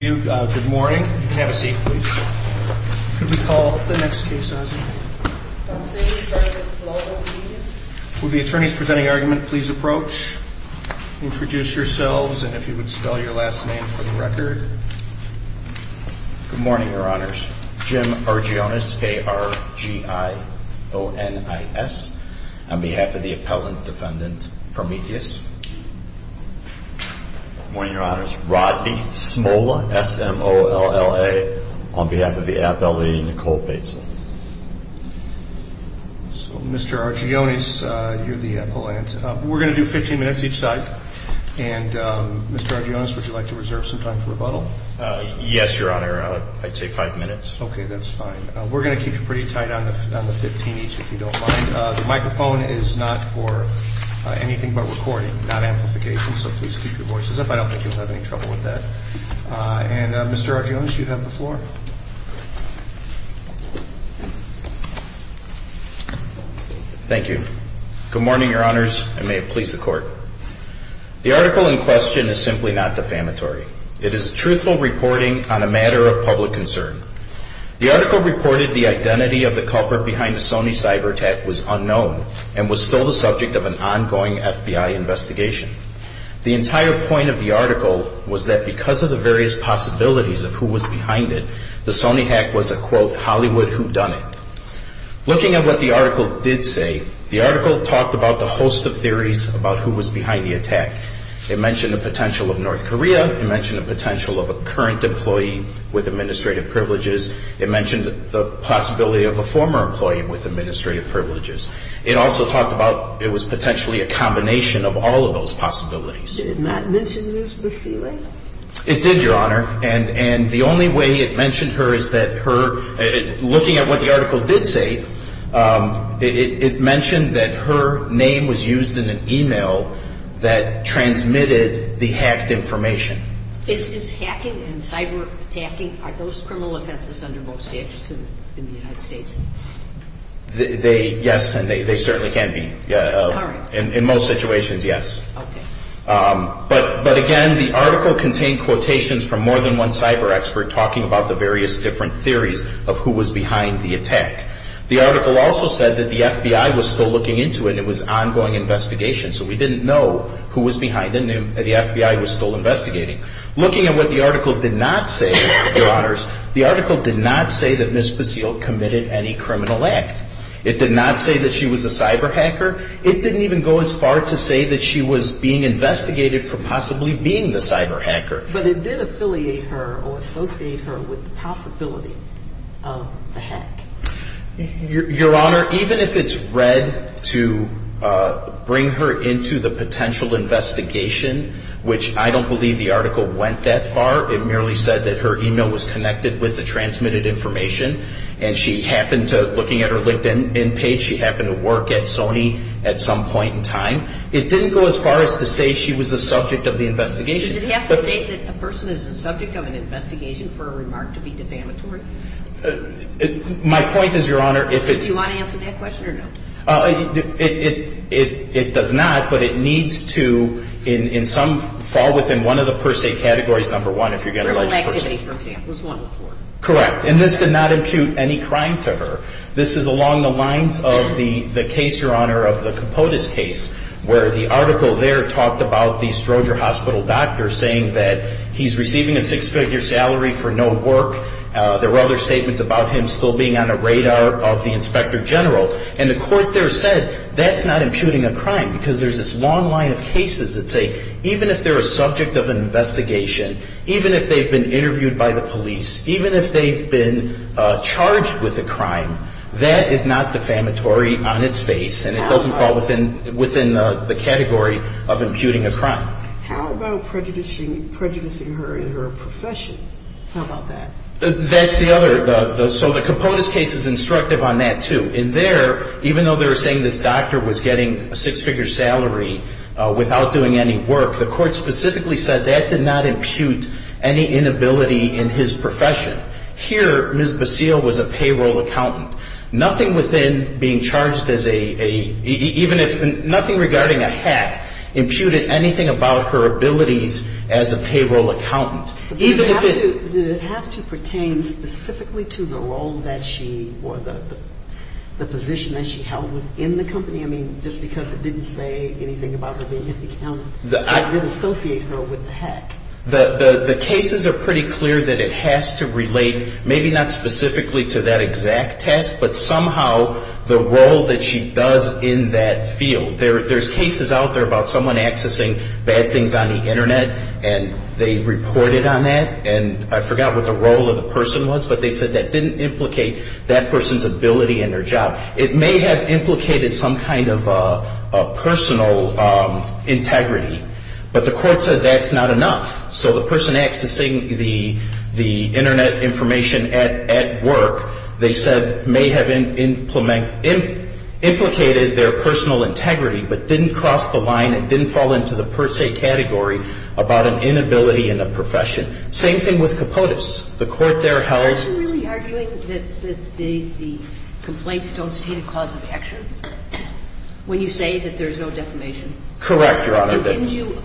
Good morning. You can have a seat please. Could we call the next case, Ozzie? Thank you, President Global Media. Will the attorneys presenting argument please approach, introduce yourselves, and if you would spell your last name for the record. Good morning, Your Honors. Jim Argyonis, A-R-G-I-O-N-I-S, on behalf of the appellant defendant Prometheus. Good morning, Your Honors. Rodney Smola, S-M-O-L-L-A, on behalf of the appellee Nicole Bateson. Mr. Argyonis, you're the appellant. We're going to do 15 minutes each side. And Mr. Argyonis, would you like to reserve some time for rebuttal? Yes, Your Honor. I'd say five minutes. Okay, that's fine. We're going to keep you pretty tight on the 15 each if you don't mind. The microphone is not for anything but recording, not amplification, so please keep your voices up. I don't think you'll have any trouble with that. And Mr. Argyonis, you have the floor. Thank you. Good morning, Your Honors, and may it please the Court. The article in question is simply not defamatory. It is truthful reporting on a matter of public concern. The article reported the identity of the culprit behind the Sony cyber attack was unknown and was still the subject of an ongoing FBI investigation. The entire point of the article was that because of the various possibilities of who was behind it, the Sony hack was a, quote, Hollywood whodunit. Looking at what the article did say, the article talked about the host of theories about who was behind the attack. It mentioned the potential of North Korea. It mentioned the potential of a current employee with administrative privileges. It mentioned the possibility of a former employee with administrative privileges. It also talked about it was potentially a combination of all of those possibilities. Did it not mention who was receiving? It did, Your Honor. And the only way it mentioned her is that her – looking at what the article did say, it mentioned that her name was used in an email that transmitted the hacked information. Is hacking and cyber attacking – are those criminal offenses under both statutes in the United States? They – yes, and they certainly can be. All right. In most situations, yes. Okay. But, again, the article contained quotations from more than one cyber expert talking about the various different theories of who was behind the attack. The article also said that the FBI was still looking into it. It was ongoing investigation, so we didn't know who was behind it. The FBI was still investigating. Looking at what the article did not say, Your Honors, the article did not say that Ms. Basile committed any criminal act. It did not say that she was a cyber hacker. It didn't even go as far to say that she was being investigated for possibly being the cyber hacker. But it did affiliate her or associate her with the possibility of the hack. Your Honor, even if it's read to bring her into the potential investigation, which I don't believe the article went that far. It merely said that her email was connected with the transmitted information, and she happened to – looking at her LinkedIn page, she happened to work at Sony at some point in time. It didn't go as far as to say she was the subject of the investigation. Does it have to say that a person is the subject of an investigation for a remark to be defamatory? My point is, Your Honor, if it's – Do you want to answer that question or no? It does not, but it needs to in some – fall within one of the per se categories, number one, if you're going to – Criminal activity, for example, is one of the four. Correct. And this did not impute any crime to her. This is along the lines of the case, Your Honor, of the Capotes case, where the article there talked about the Stroger Hospital doctor saying that he's receiving a six-figure salary for no work. There were other statements about him still being on the radar of the inspector general. And the court there said that's not imputing a crime because there's this long line of cases that say, even if they're a subject of an investigation, even if they've been interviewed by the police, even if they've been charged with a crime, that is not defamatory on its face. And it doesn't fall within the category of imputing a crime. How about prejudicing her in her profession? How about that? That's the other – so the Capotes case is instructive on that, too. In there, even though they were saying this doctor was getting a six-figure salary without doing any work, the court specifically said that did not impute any inability in his profession. Here, Ms. Basile was a payroll accountant. Nothing within being charged as a – even if – nothing regarding a hack imputed anything about her abilities as a payroll accountant. Even if it – Did it have to pertain specifically to the role that she – or the position that she held within the company? I mean, just because it didn't say anything about her being an accountant, it didn't associate her with the hack. The cases are pretty clear that it has to relate maybe not specifically to that exact task, but somehow the role that she does in that field. There's cases out there about someone accessing bad things on the Internet, and they reported on that. And I forgot what the role of the person was, but they said that didn't implicate that person's ability in their job. It may have implicated some kind of a personal integrity, but the court said that's not enough. So the person accessing the Internet information at work, they said may have implicated their personal integrity, but didn't cross the line and didn't fall into the per se category about an inability in a profession. Same thing with Kapotes. The court there held – Are you really arguing that the complaints don't state a cause of action when you say that there's no defamation? Correct, Your Honor. Didn't you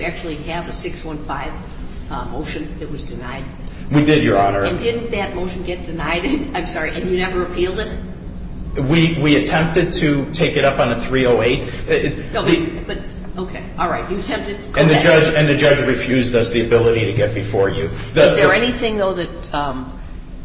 actually have a 615 motion that was denied? We did, Your Honor. And didn't that motion get denied? I'm sorry. And you never appealed it? We attempted to take it up on a 308. Okay. All right. You attempted. And the judge refused us the ability to get before you. Is there anything, though, that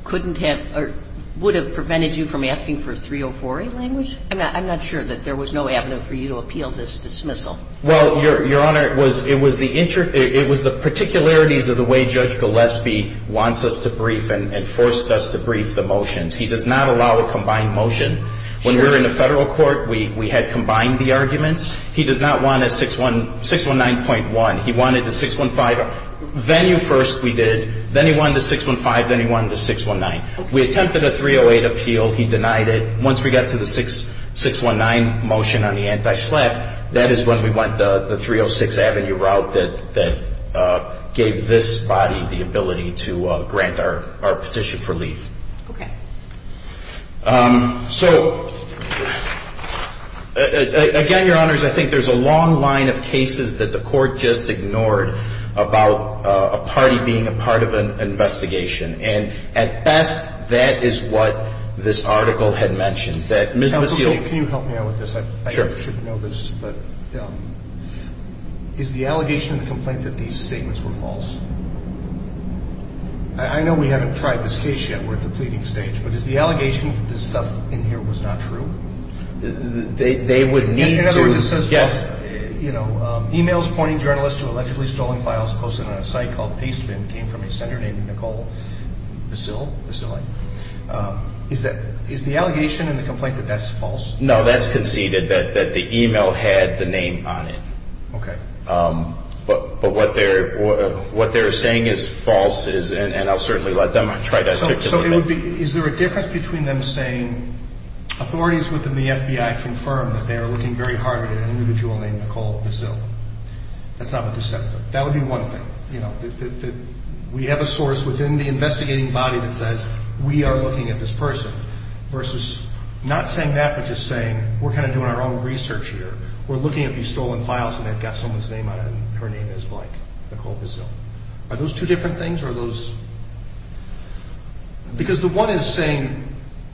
couldn't have – or would have prevented you from asking for a 304A language? I'm not sure that there was no avenue for you to appeal this dismissal. Well, Your Honor, it was the particularities of the way Judge Gillespie wants us to brief and forced us to brief the motions. He does not allow a combined motion. When we were in the federal court, we had combined the arguments. He does not want a 619.1. He wanted the 615. Venue first we did. Then he wanted the 615. Then he wanted the 619. We attempted a 308 appeal. He denied it. Once we got to the 619 motion on the anti-slap, that is when we went the 306 Avenue route that gave this body the ability to grant our petition for leave. Okay. So, again, Your Honors, I think there's a long line of cases that the court just ignored about a party being a part of an investigation. And at best, that is what this article had mentioned. Counsel, can you help me out with this? Sure. I shouldn't know this, but is the allegation in the complaint that these statements were false? I know we haven't tried this case yet. We're at the pleading stage. But is the allegation that this stuff in here was not true? They would need to – In other words, it says – Yes. Is the allegation in the complaint that that's false? No, that's conceded, that the e-mail had the name on it. Okay. But what they're saying is false, and I'll certainly let them try to – So it would be – is there a difference between them saying, authorities within the FBI confirm that they are looking very hard at an individual named Nicole Basile? That's not what this says. That would be one thing, that we have a source within the investigating body that says, we are looking at this person, versus not saying that, but just saying, we're kind of doing our own research here. We're looking at these stolen files, and they've got someone's name on it, and her name is like Nicole Basile. Are those two different things, or are those – because the one is saying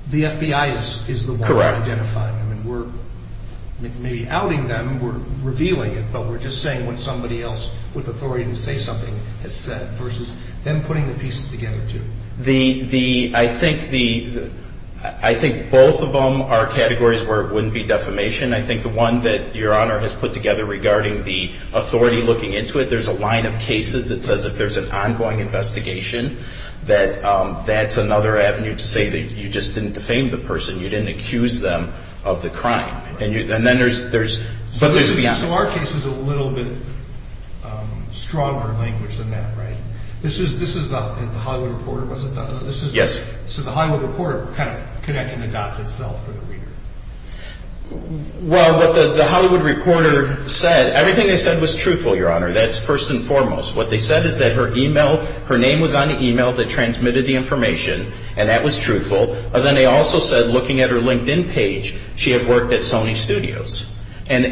the FBI is the one identifying them. Correct. And we're maybe outing them, we're revealing it, but we're just saying what somebody else with authority to say something has said, versus them putting the pieces together, too. The – I think the – I think both of them are categories where it wouldn't be defamation. I think the one that Your Honor has put together regarding the authority looking into it, there's a line of cases that says if there's an ongoing investigation, that that's another avenue to say that you just didn't defame the person, you didn't accuse them of the crime. And then there's – So our case is a little bit stronger language than that, right? This is the – the Hollywood Reporter, was it? Yes. This is the Hollywood Reporter kind of connecting the dots itself for the reader. Well, what the Hollywood Reporter said – everything they said was truthful, Your Honor. That's first and foremost. What they said is that her email – her name was on the email that transmitted the information, and that was truthful. Then they also said, looking at her LinkedIn page, she had worked at Sony Studios. And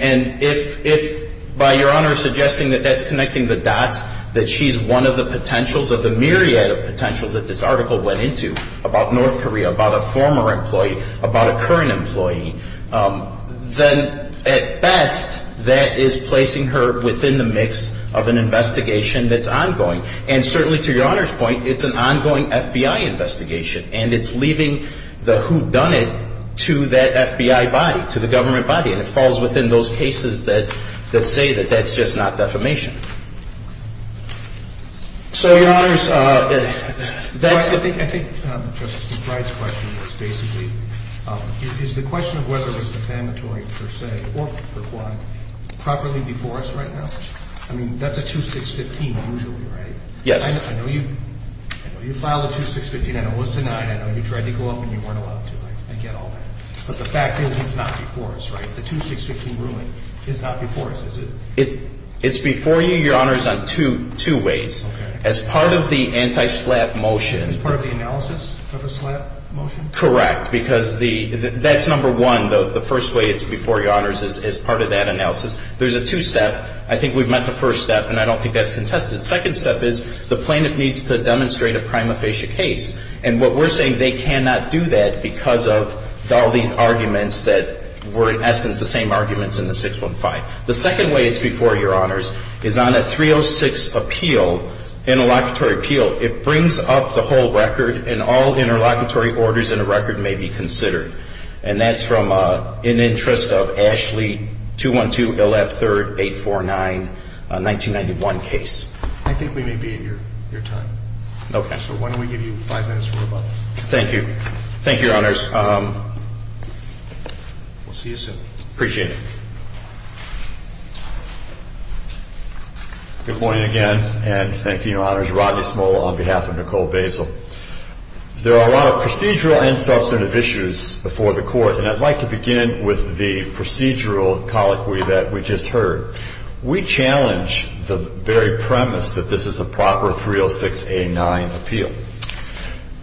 if – by Your Honor suggesting that that's connecting the dots, that she's one of the potentials of the myriad of potentials that this article went into about North Korea, about a former employee, about a current employee, then at best that is placing her within the mix of an investigation that's ongoing. And certainly to Your Honor's point, it's an ongoing FBI investigation, and it's leaving the whodunit to that FBI body, to the government body. And it falls within those cases that say that that's just not defamation. So, Your Honors, that's the – I think Justice McBride's question was basically, is the question of whether it was defamatory per se or per quod properly before us right now? I mean, that's a 2615 usually, right? Yes. I know you – I know you filed a 2615. I know it was denied. I know you tried to go up and you weren't allowed to. I get all that. But the fact is it's not before us, right? The 2615 ruling is not before us, is it? It's before you, Your Honors, on two ways. Okay. As part of the anti-SLAPP motion – As part of the analysis of the SLAPP motion? Correct. Because the – that's number one. The first way it's before Your Honors is as part of that analysis. There's a two-step. I think we've met the first step, and I don't think that's contested. Second step is the plaintiff needs to demonstrate a prima facie case. And what we're saying, they cannot do that because of all these arguments that were, in essence, the same arguments in the 615. The second way it's before Your Honors is on a 306 appeal, interlocutory appeal, it brings up the whole record and all interlocutory orders in a record may be considered. And that's from an interest of Ashley 212, ILAP 3rd, 849, 1991 case. I think we may be in your time. Okay. So why don't we give you five minutes for rebuttal. Thank you. Thank you, Your Honors. We'll see you soon. Appreciate it. Good morning again, and thank you, Your Honors. Rodney Smoll on behalf of Nicole Basil. There are a lot of procedural and substantive issues before the Court, and I'd like to begin with the procedural colloquy that we just heard. We challenge the very premise that this is a proper 306A9 appeal.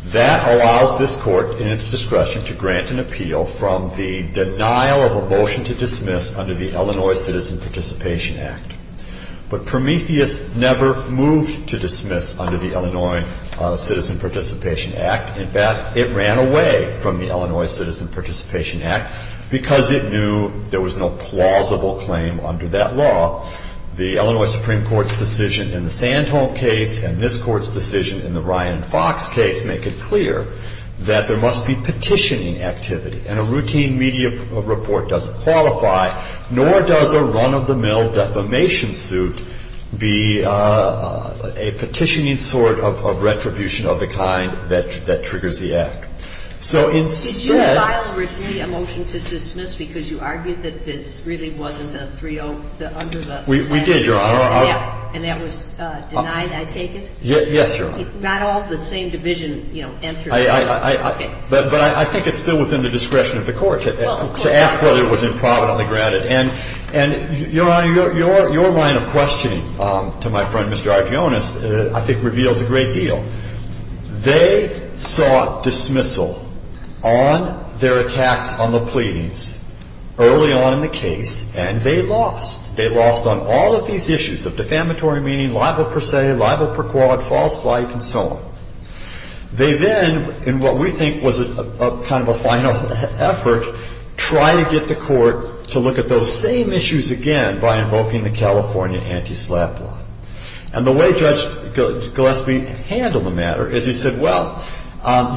That allows this Court, in its discretion, to grant an appeal from the denial of a motion to dismiss under the Illinois Citizen Participation Act. But Prometheus never moved to dismiss under the Illinois Citizen Participation Act. In fact, it ran away from the Illinois Citizen Participation Act because it knew there was no plausible claim under that law. The Illinois Supreme Court's decision in the Sandholm case and this Court's decision in the Ryan Fox case make it clear that there must be petitioning activity. And a routine media report doesn't qualify, nor does a run-of-the-mill defamation suit be a petitioning sort of retribution of the kind that triggers the act. So instead... Did you file originally a motion to dismiss because you argued that this really wasn't a 306A9? We did, Your Honor. And that was denied, I take it? Yes, Your Honor. Not all of the same division, you know, entered? But I think it's still within the discretion of the Court to ask whether it was improvidently granted. And, Your Honor, your line of questioning to my friend, Mr. Argeones, I think reveals a great deal. They sought dismissal on their attacks on the pleadings early on in the case, and they lost. They lost on all of these issues of defamatory meaning, libel per se, libel per quad, false life, and so on. They then, in what we think was kind of a final effort, tried to get the Court to look at those same issues again by invoking the California Anti-SLAPP law. And the way Judge Gillespie handled the matter is he said, Well,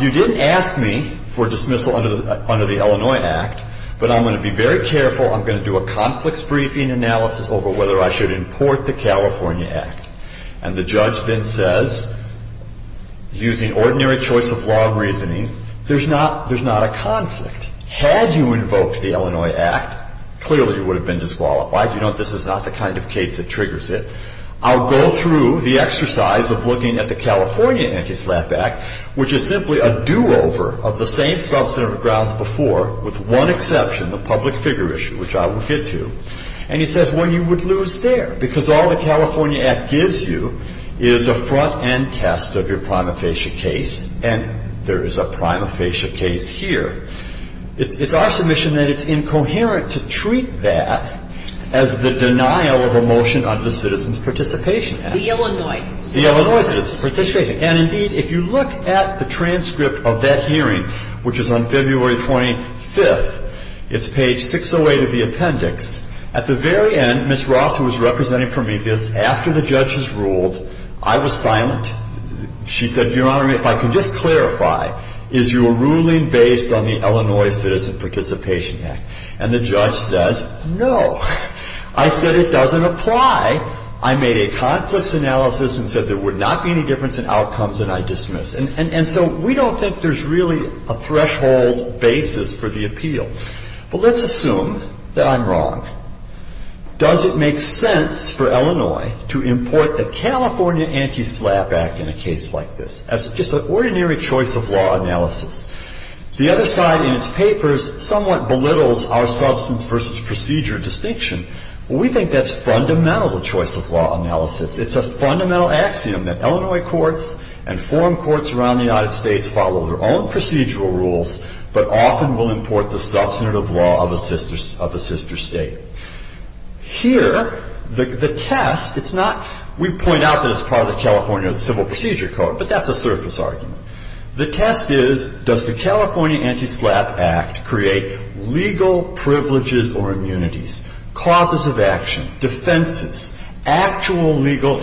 you didn't ask me for dismissal under the Illinois Act, but I'm going to be very careful. I'm going to do a conflicts briefing analysis over whether I should import the California Act. And the judge then says, using ordinary choice of law and reasoning, there's not a conflict. Had you invoked the Illinois Act, clearly you would have been disqualified. You know this is not the kind of case that triggers it. I'll go through the exercise of looking at the California Anti-SLAPP Act, which is simply a do-over of the same substantive grounds before, with one exception, the public figure issue, which I will get to. And he says, well, you would lose there, because all the California Act gives you is a front-end test of your prima facie case. And there is a prima facie case here. It's our submission that it's incoherent to treat that as the denial of a motion under the Citizens Participation Act. The Illinois Citizens Participation Act. The Illinois Citizens Participation Act. And, indeed, if you look at the transcript of that hearing, which is on February 25th, it's page 608 of the appendix. At the very end, Ms. Ross, who was representing Prometheus, after the judges ruled, I was silent. She said, Your Honor, if I can just clarify, is your ruling based on the Illinois Citizens Participation Act? And the judge says, no. I said it doesn't apply. I made a conflicts analysis and said there would not be any difference in outcomes, and I dismiss. And so we don't think there's really a threshold basis for the appeal. But let's assume that I'm wrong. Does it make sense for Illinois to import the California Anti-SLAPP Act in a case like this as just an ordinary choice of law analysis? The other side in its papers somewhat belittles our substance versus procedure distinction. We think that's fundamental choice of law analysis. It's a fundamental axiom that Illinois courts and forum courts around the United States follow their own procedural rules but often will import the substantive law of a sister state. Here, the test, it's not, we point out that it's part of the California Civil Procedure Code, but that's a surface argument. The test is, does the California Anti-SLAPP Act create legal privileges or immunities, causes of action, defenses, actual legal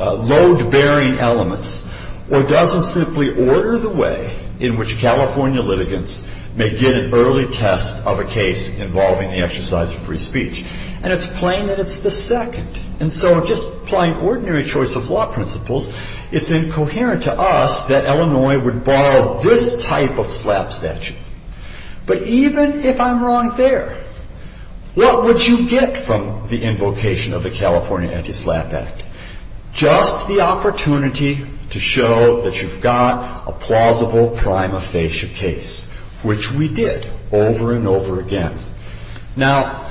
load-bearing elements, or does it simply order the way in which California litigants may get an early test of a case involving the exercise of free speech? And it's plain that it's the second. And so just applying ordinary choice of law principles, it's incoherent to us that Illinois would borrow this type of SLAPP statute. But even if I'm wrong there, what would you get from the invocation of the California Anti-SLAPP Act? Just the opportunity to show that you've got a plausible prima facie case, which we did over and over again. Now,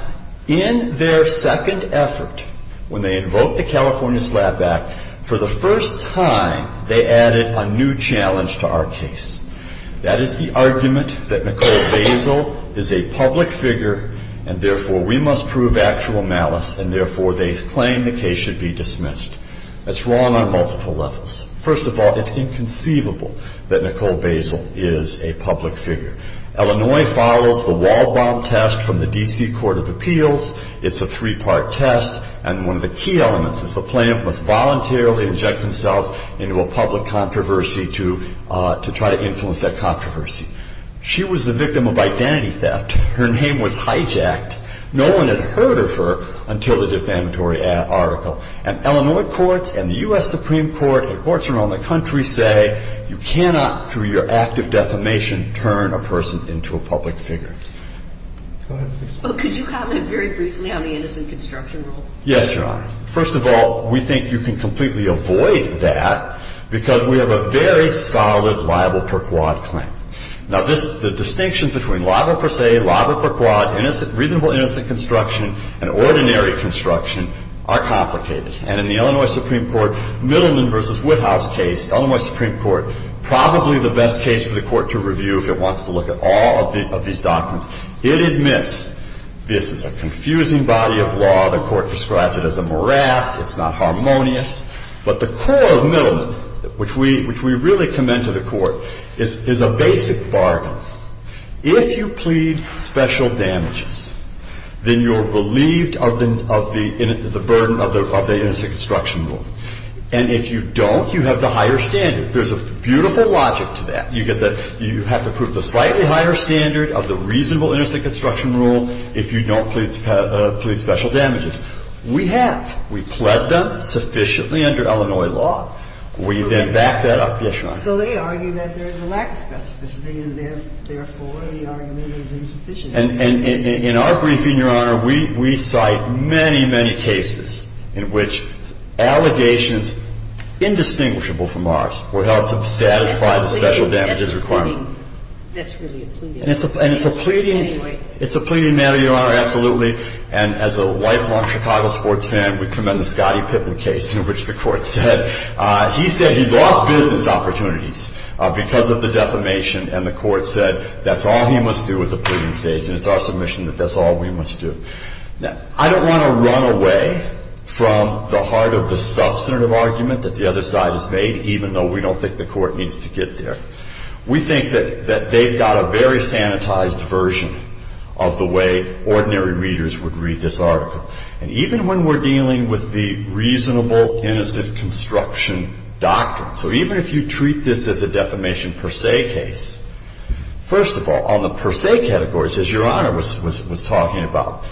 in their second effort, when they invoked the California SLAPP Act, for the first time they added a new challenge to our case. That is the argument that Nicole Basil is a public figure, and therefore we must prove actual malice, and therefore they claim the case should be dismissed. That's wrong on multiple levels. First of all, it's inconceivable that Nicole Basil is a public figure. Illinois follows the Waldbaum test from the D.C. Court of Appeals. It's a three-part test. And one of the key elements is the plaintiff must voluntarily inject themselves into a public controversy to try to influence that controversy. She was the victim of identity theft. Her name was hijacked. No one had heard of her until the defamatory article. And Illinois courts and the U.S. Supreme Court and courts around the country say you cannot, through your act of defamation, turn a person into a public figure. Go ahead, please. Could you comment very briefly on the innocent construction rule? Yes, Your Honor. First of all, we think you can completely avoid that because we have a very solid liable per quod claim. Now, the distinction between liable per se, liable per quod, reasonable innocent construction, and ordinary construction are complicated. And in the Illinois Supreme Court Middleman v. Woodhouse case, Illinois Supreme Court, probably the best case for the Court to review if it wants to look at all of these documents. It admits this is a confusing body of law. The Court describes it as a morass. It's not harmonious. But the core of Middleman, which we really commend to the Court, is a basic bargain. If you plead special damages, then you're relieved of the burden of the innocent construction rule. And if you don't, you have the higher standard. There's a beautiful logic to that. You have to prove the slightly higher standard of the reasonable innocent construction rule if you don't plead special damages. We have. We pled them sufficiently under Illinois law. We then back that up. Yes, Your Honor. So they argue that there is a lack of specificity, and therefore the argument is insufficient. And in our briefing, Your Honor, we cite many, many cases in which allegations indistinguishable from ours were held to satisfy the special damages requirement. That's really a pleading matter. And it's a pleading matter, Your Honor, absolutely. And as a lifelong Chicago sports fan, we commend the Scottie Pippen case in which the Court said he lost business opportunities because of the defamation. And the Court said that's all he must do at the pleading stage. And it's our submission that that's all we must do. Now, I don't want to run away from the heart of the substantive argument that the other side has made, even though we don't think the Court needs to get there. We think that they've got a very sanitized version of the way ordinary readers would read this article. And even when we're dealing with the reasonable innocent construction doctrine, so even if you treat this as a defamation per se case, first of all, on the per se categories, as Your Honor was talking about,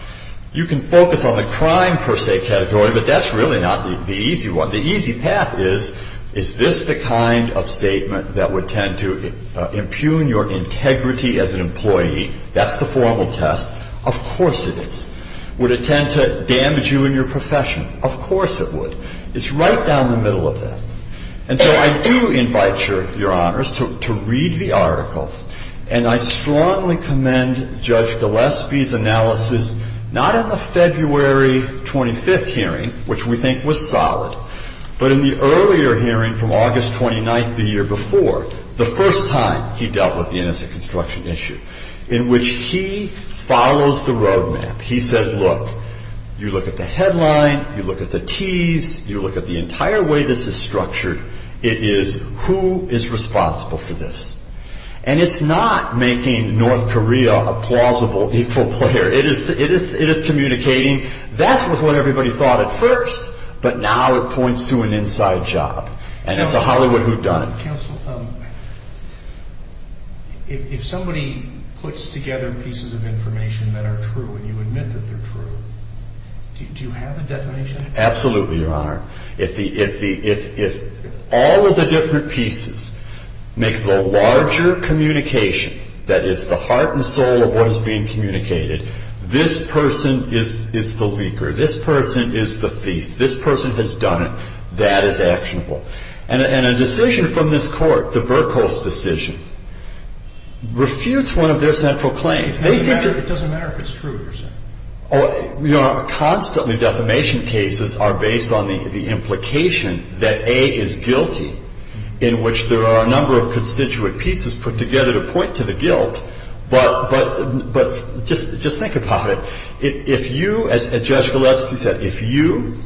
you can focus on the crime per se category, but that's really not the easy one. The easy path is, is this the kind of statement that would tend to impugn your integrity as an employee? That's the formal test. Of course it is. Would it tend to damage you in your profession? Of course it would. It's right down the middle of that. And so I do invite Your Honors to read the article, and I strongly commend Judge Gillespie's analysis, not in the February 25th hearing, which we think was solid, but in the earlier hearing from August 29th the year before, the first time he dealt with the innocent construction issue, in which he follows the roadmap. He says, look, you look at the headline, you look at the Ts, you look at the entire way this is structured, it is who is responsible for this. And it's not making North Korea a plausible equal player. It is communicating, that's what everybody thought at first, but now it points to an inside job. And it's a Hollywood whodunit. Counsel, if somebody puts together pieces of information that are true and you admit that they're true, do you have a definition? Absolutely, Your Honor. If all of the different pieces make the larger communication that is the heart and soul of what is being communicated, this person is the leaker. This person is the thief. This person has done it. That is actionable. And a decision from this court, the Burkholz decision, refutes one of their central claims. It doesn't matter if it's true, Your Honor. Constantly defamation cases are based on the implication that A is guilty, in which there are a number of constituent pieces put together to point to the guilt. But just think about it. If you, as Judge Gillespie said, if you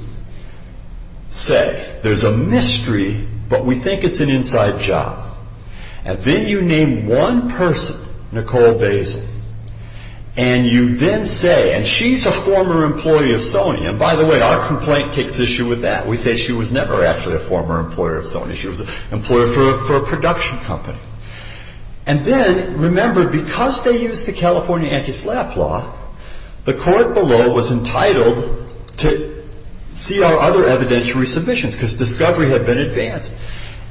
say there's a mystery, but we think it's an inside job, and then you name one person, Nicole Basil, and you then say, and she's a former employee of Sony, and by the way, our complaint takes issue with that. We say she was never actually a former employer of Sony. She was an employer for a production company. And then, remember, because they used the California anti-slap law, the court below was entitled to see our other evidentiary submissions, because discovery had been advanced.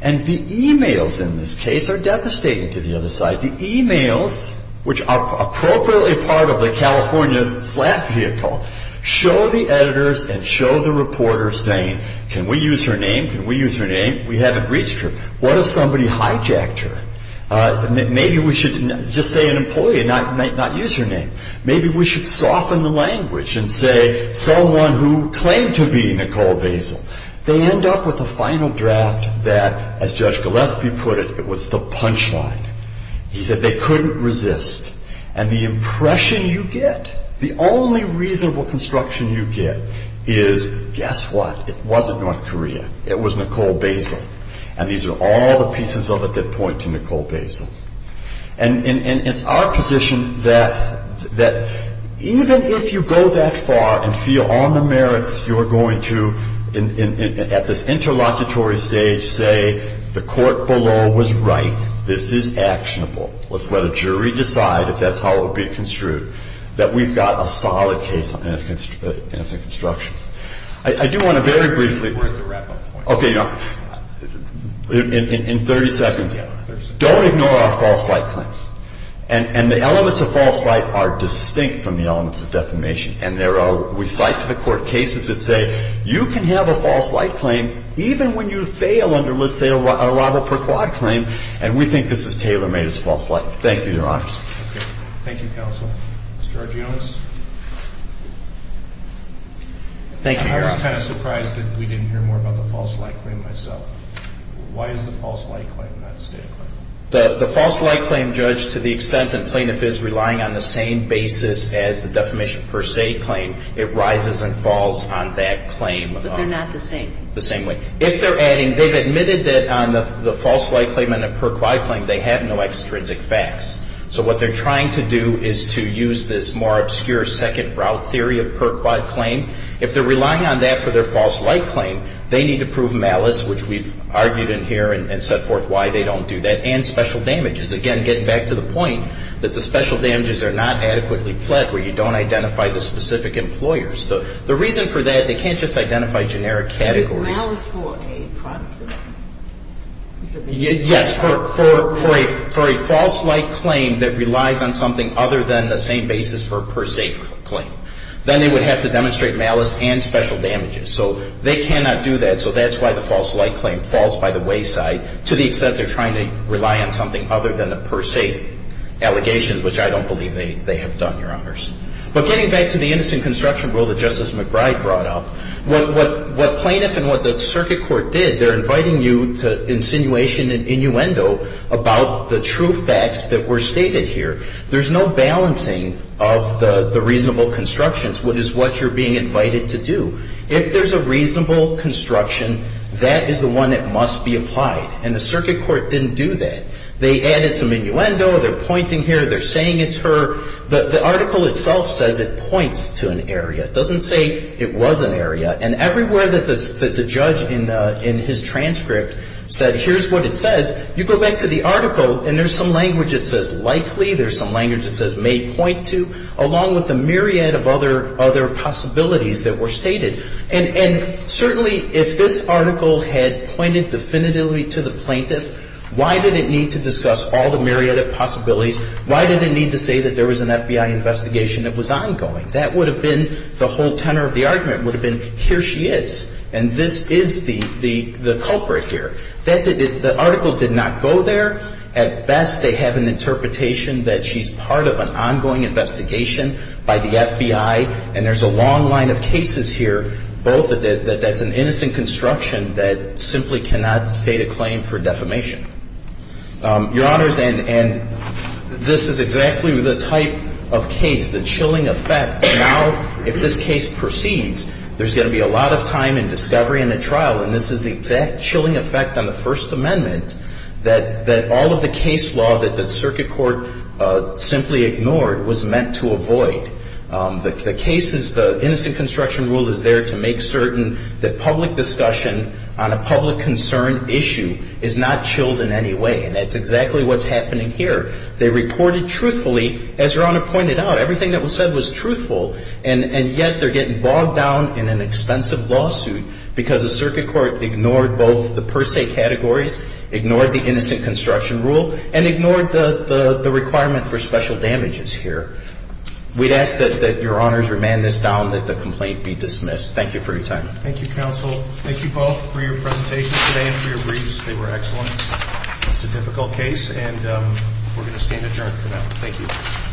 And the e-mails in this case are devastating to the other side. The e-mails, which are appropriately part of the California slap vehicle, show the editors and show the reporters saying, can we use her name? Can we use her name? We haven't reached her. What if somebody hijacked her? Maybe we should just say an employee, not use her name. Maybe we should soften the language and say someone who claimed to be Nicole Basil. They end up with a final draft that, as Judge Gillespie put it, it was the punchline. He said they couldn't resist. And the impression you get, the only reasonable construction you get is, guess what? It wasn't North Korea. It was Nicole Basil. And these are all the pieces of it that point to Nicole Basil. And it's our position that even if you go that far and feel on the merits, you're going to, at this interlocutory stage, say the court below was right. This is actionable. Let's let a jury decide if that's how it will be construed, that we've got a solid case and it's a construction. I do want to very briefly. We're at the wrap-up point. Okay. In 30 seconds. Yeah, 30 seconds. Don't ignore our false light claim. And the elements of false light are distinct from the elements of defamation. And there are, we cite to the court cases that say you can have a false light claim even when you fail under, let's say, a robber per quad claim, and we think this is tailor-made as false light. Thank you, Your Honors. Okay. Thank you, Counsel. Mr. Argeones? Thank you, Your Honor. I was kind of surprised that we didn't hear more about the false light claim myself. Why is the false light claim not a state claim? The false light claim, Judge, to the extent that plaintiff is relying on the same basis as the defamation per se claim, it rises and falls on that claim. But they're not the same. The same way. If they're adding, they've admitted that on the false light claim and the per quad claim, they have no extrinsic facts. So what they're trying to do is to use this more obscure second route theory of per quad claim. If they're relying on that for their false light claim, they need to prove malice, which we've argued in here and set forth why they don't do that, and special damages. Again, getting back to the point that the special damages are not adequately pled where you don't identify the specific employers. The reason for that, they can't just identify generic categories. Malice for a process. Yes, for a false light claim that relies on something other than the same basis for a per se claim. Then they would have to demonstrate malice and special damages. So they cannot do that. So that's why the false light claim falls by the wayside to the extent they're trying to rely on something other than a per se allegation, which I don't believe they have done, Your Honors. But getting back to the innocent construction rule that Justice McBride brought up, what plaintiff and what the circuit court did, they're inviting you to insinuation and innuendo about the true facts that were stated here. There's no balancing of the reasonable constructions, which is what you're being invited to do. If there's a reasonable construction, that is the one that must be applied. And the circuit court didn't do that. They added some innuendo. They're pointing here. They're saying it's her. The article itself says it points to an area. It doesn't say it was an area. And everywhere that the judge in his transcript said here's what it says, you go back to the article and there's some language that says likely, there's some language that says may point to, along with the myriad of other possibilities that were stated. And certainly if this article had pointed definitively to the plaintiff, why did it need to discuss all the myriad of possibilities? Why did it need to say that there was an FBI investigation that was ongoing? That would have been the whole tenor of the argument, would have been here she is. And this is the culprit here. The article did not go there. At best, they have an interpretation that she's part of an ongoing investigation by the FBI. And there's a long line of cases here, both that that's an innocent construction that simply cannot state a claim for defamation. Your Honors, and this is exactly the type of case, the chilling effect. Now, if this case proceeds, there's going to be a lot of time and discovery in the trial. And this is the exact chilling effect on the First Amendment that all of the case law that the circuit court simply ignored was meant to avoid. The cases, the innocent construction rule is there to make certain that public discussion on a public concern issue is not chilled in any way. And that's exactly what's happening here. They reported truthfully, as Your Honor pointed out, everything that was said was truthful. And yet they're getting bogged down in an expensive lawsuit because the circuit court ignored both the per se categories, ignored the innocent construction rule, and ignored the requirement for special damages here. We'd ask that Your Honors remand this down, that the complaint be dismissed. Thank you for your time. Thank you, Counsel. Thank you both for your presentations today and for your briefs. They were excellent. It's a difficult case, and we're going to stand adjourned for now. Thank you.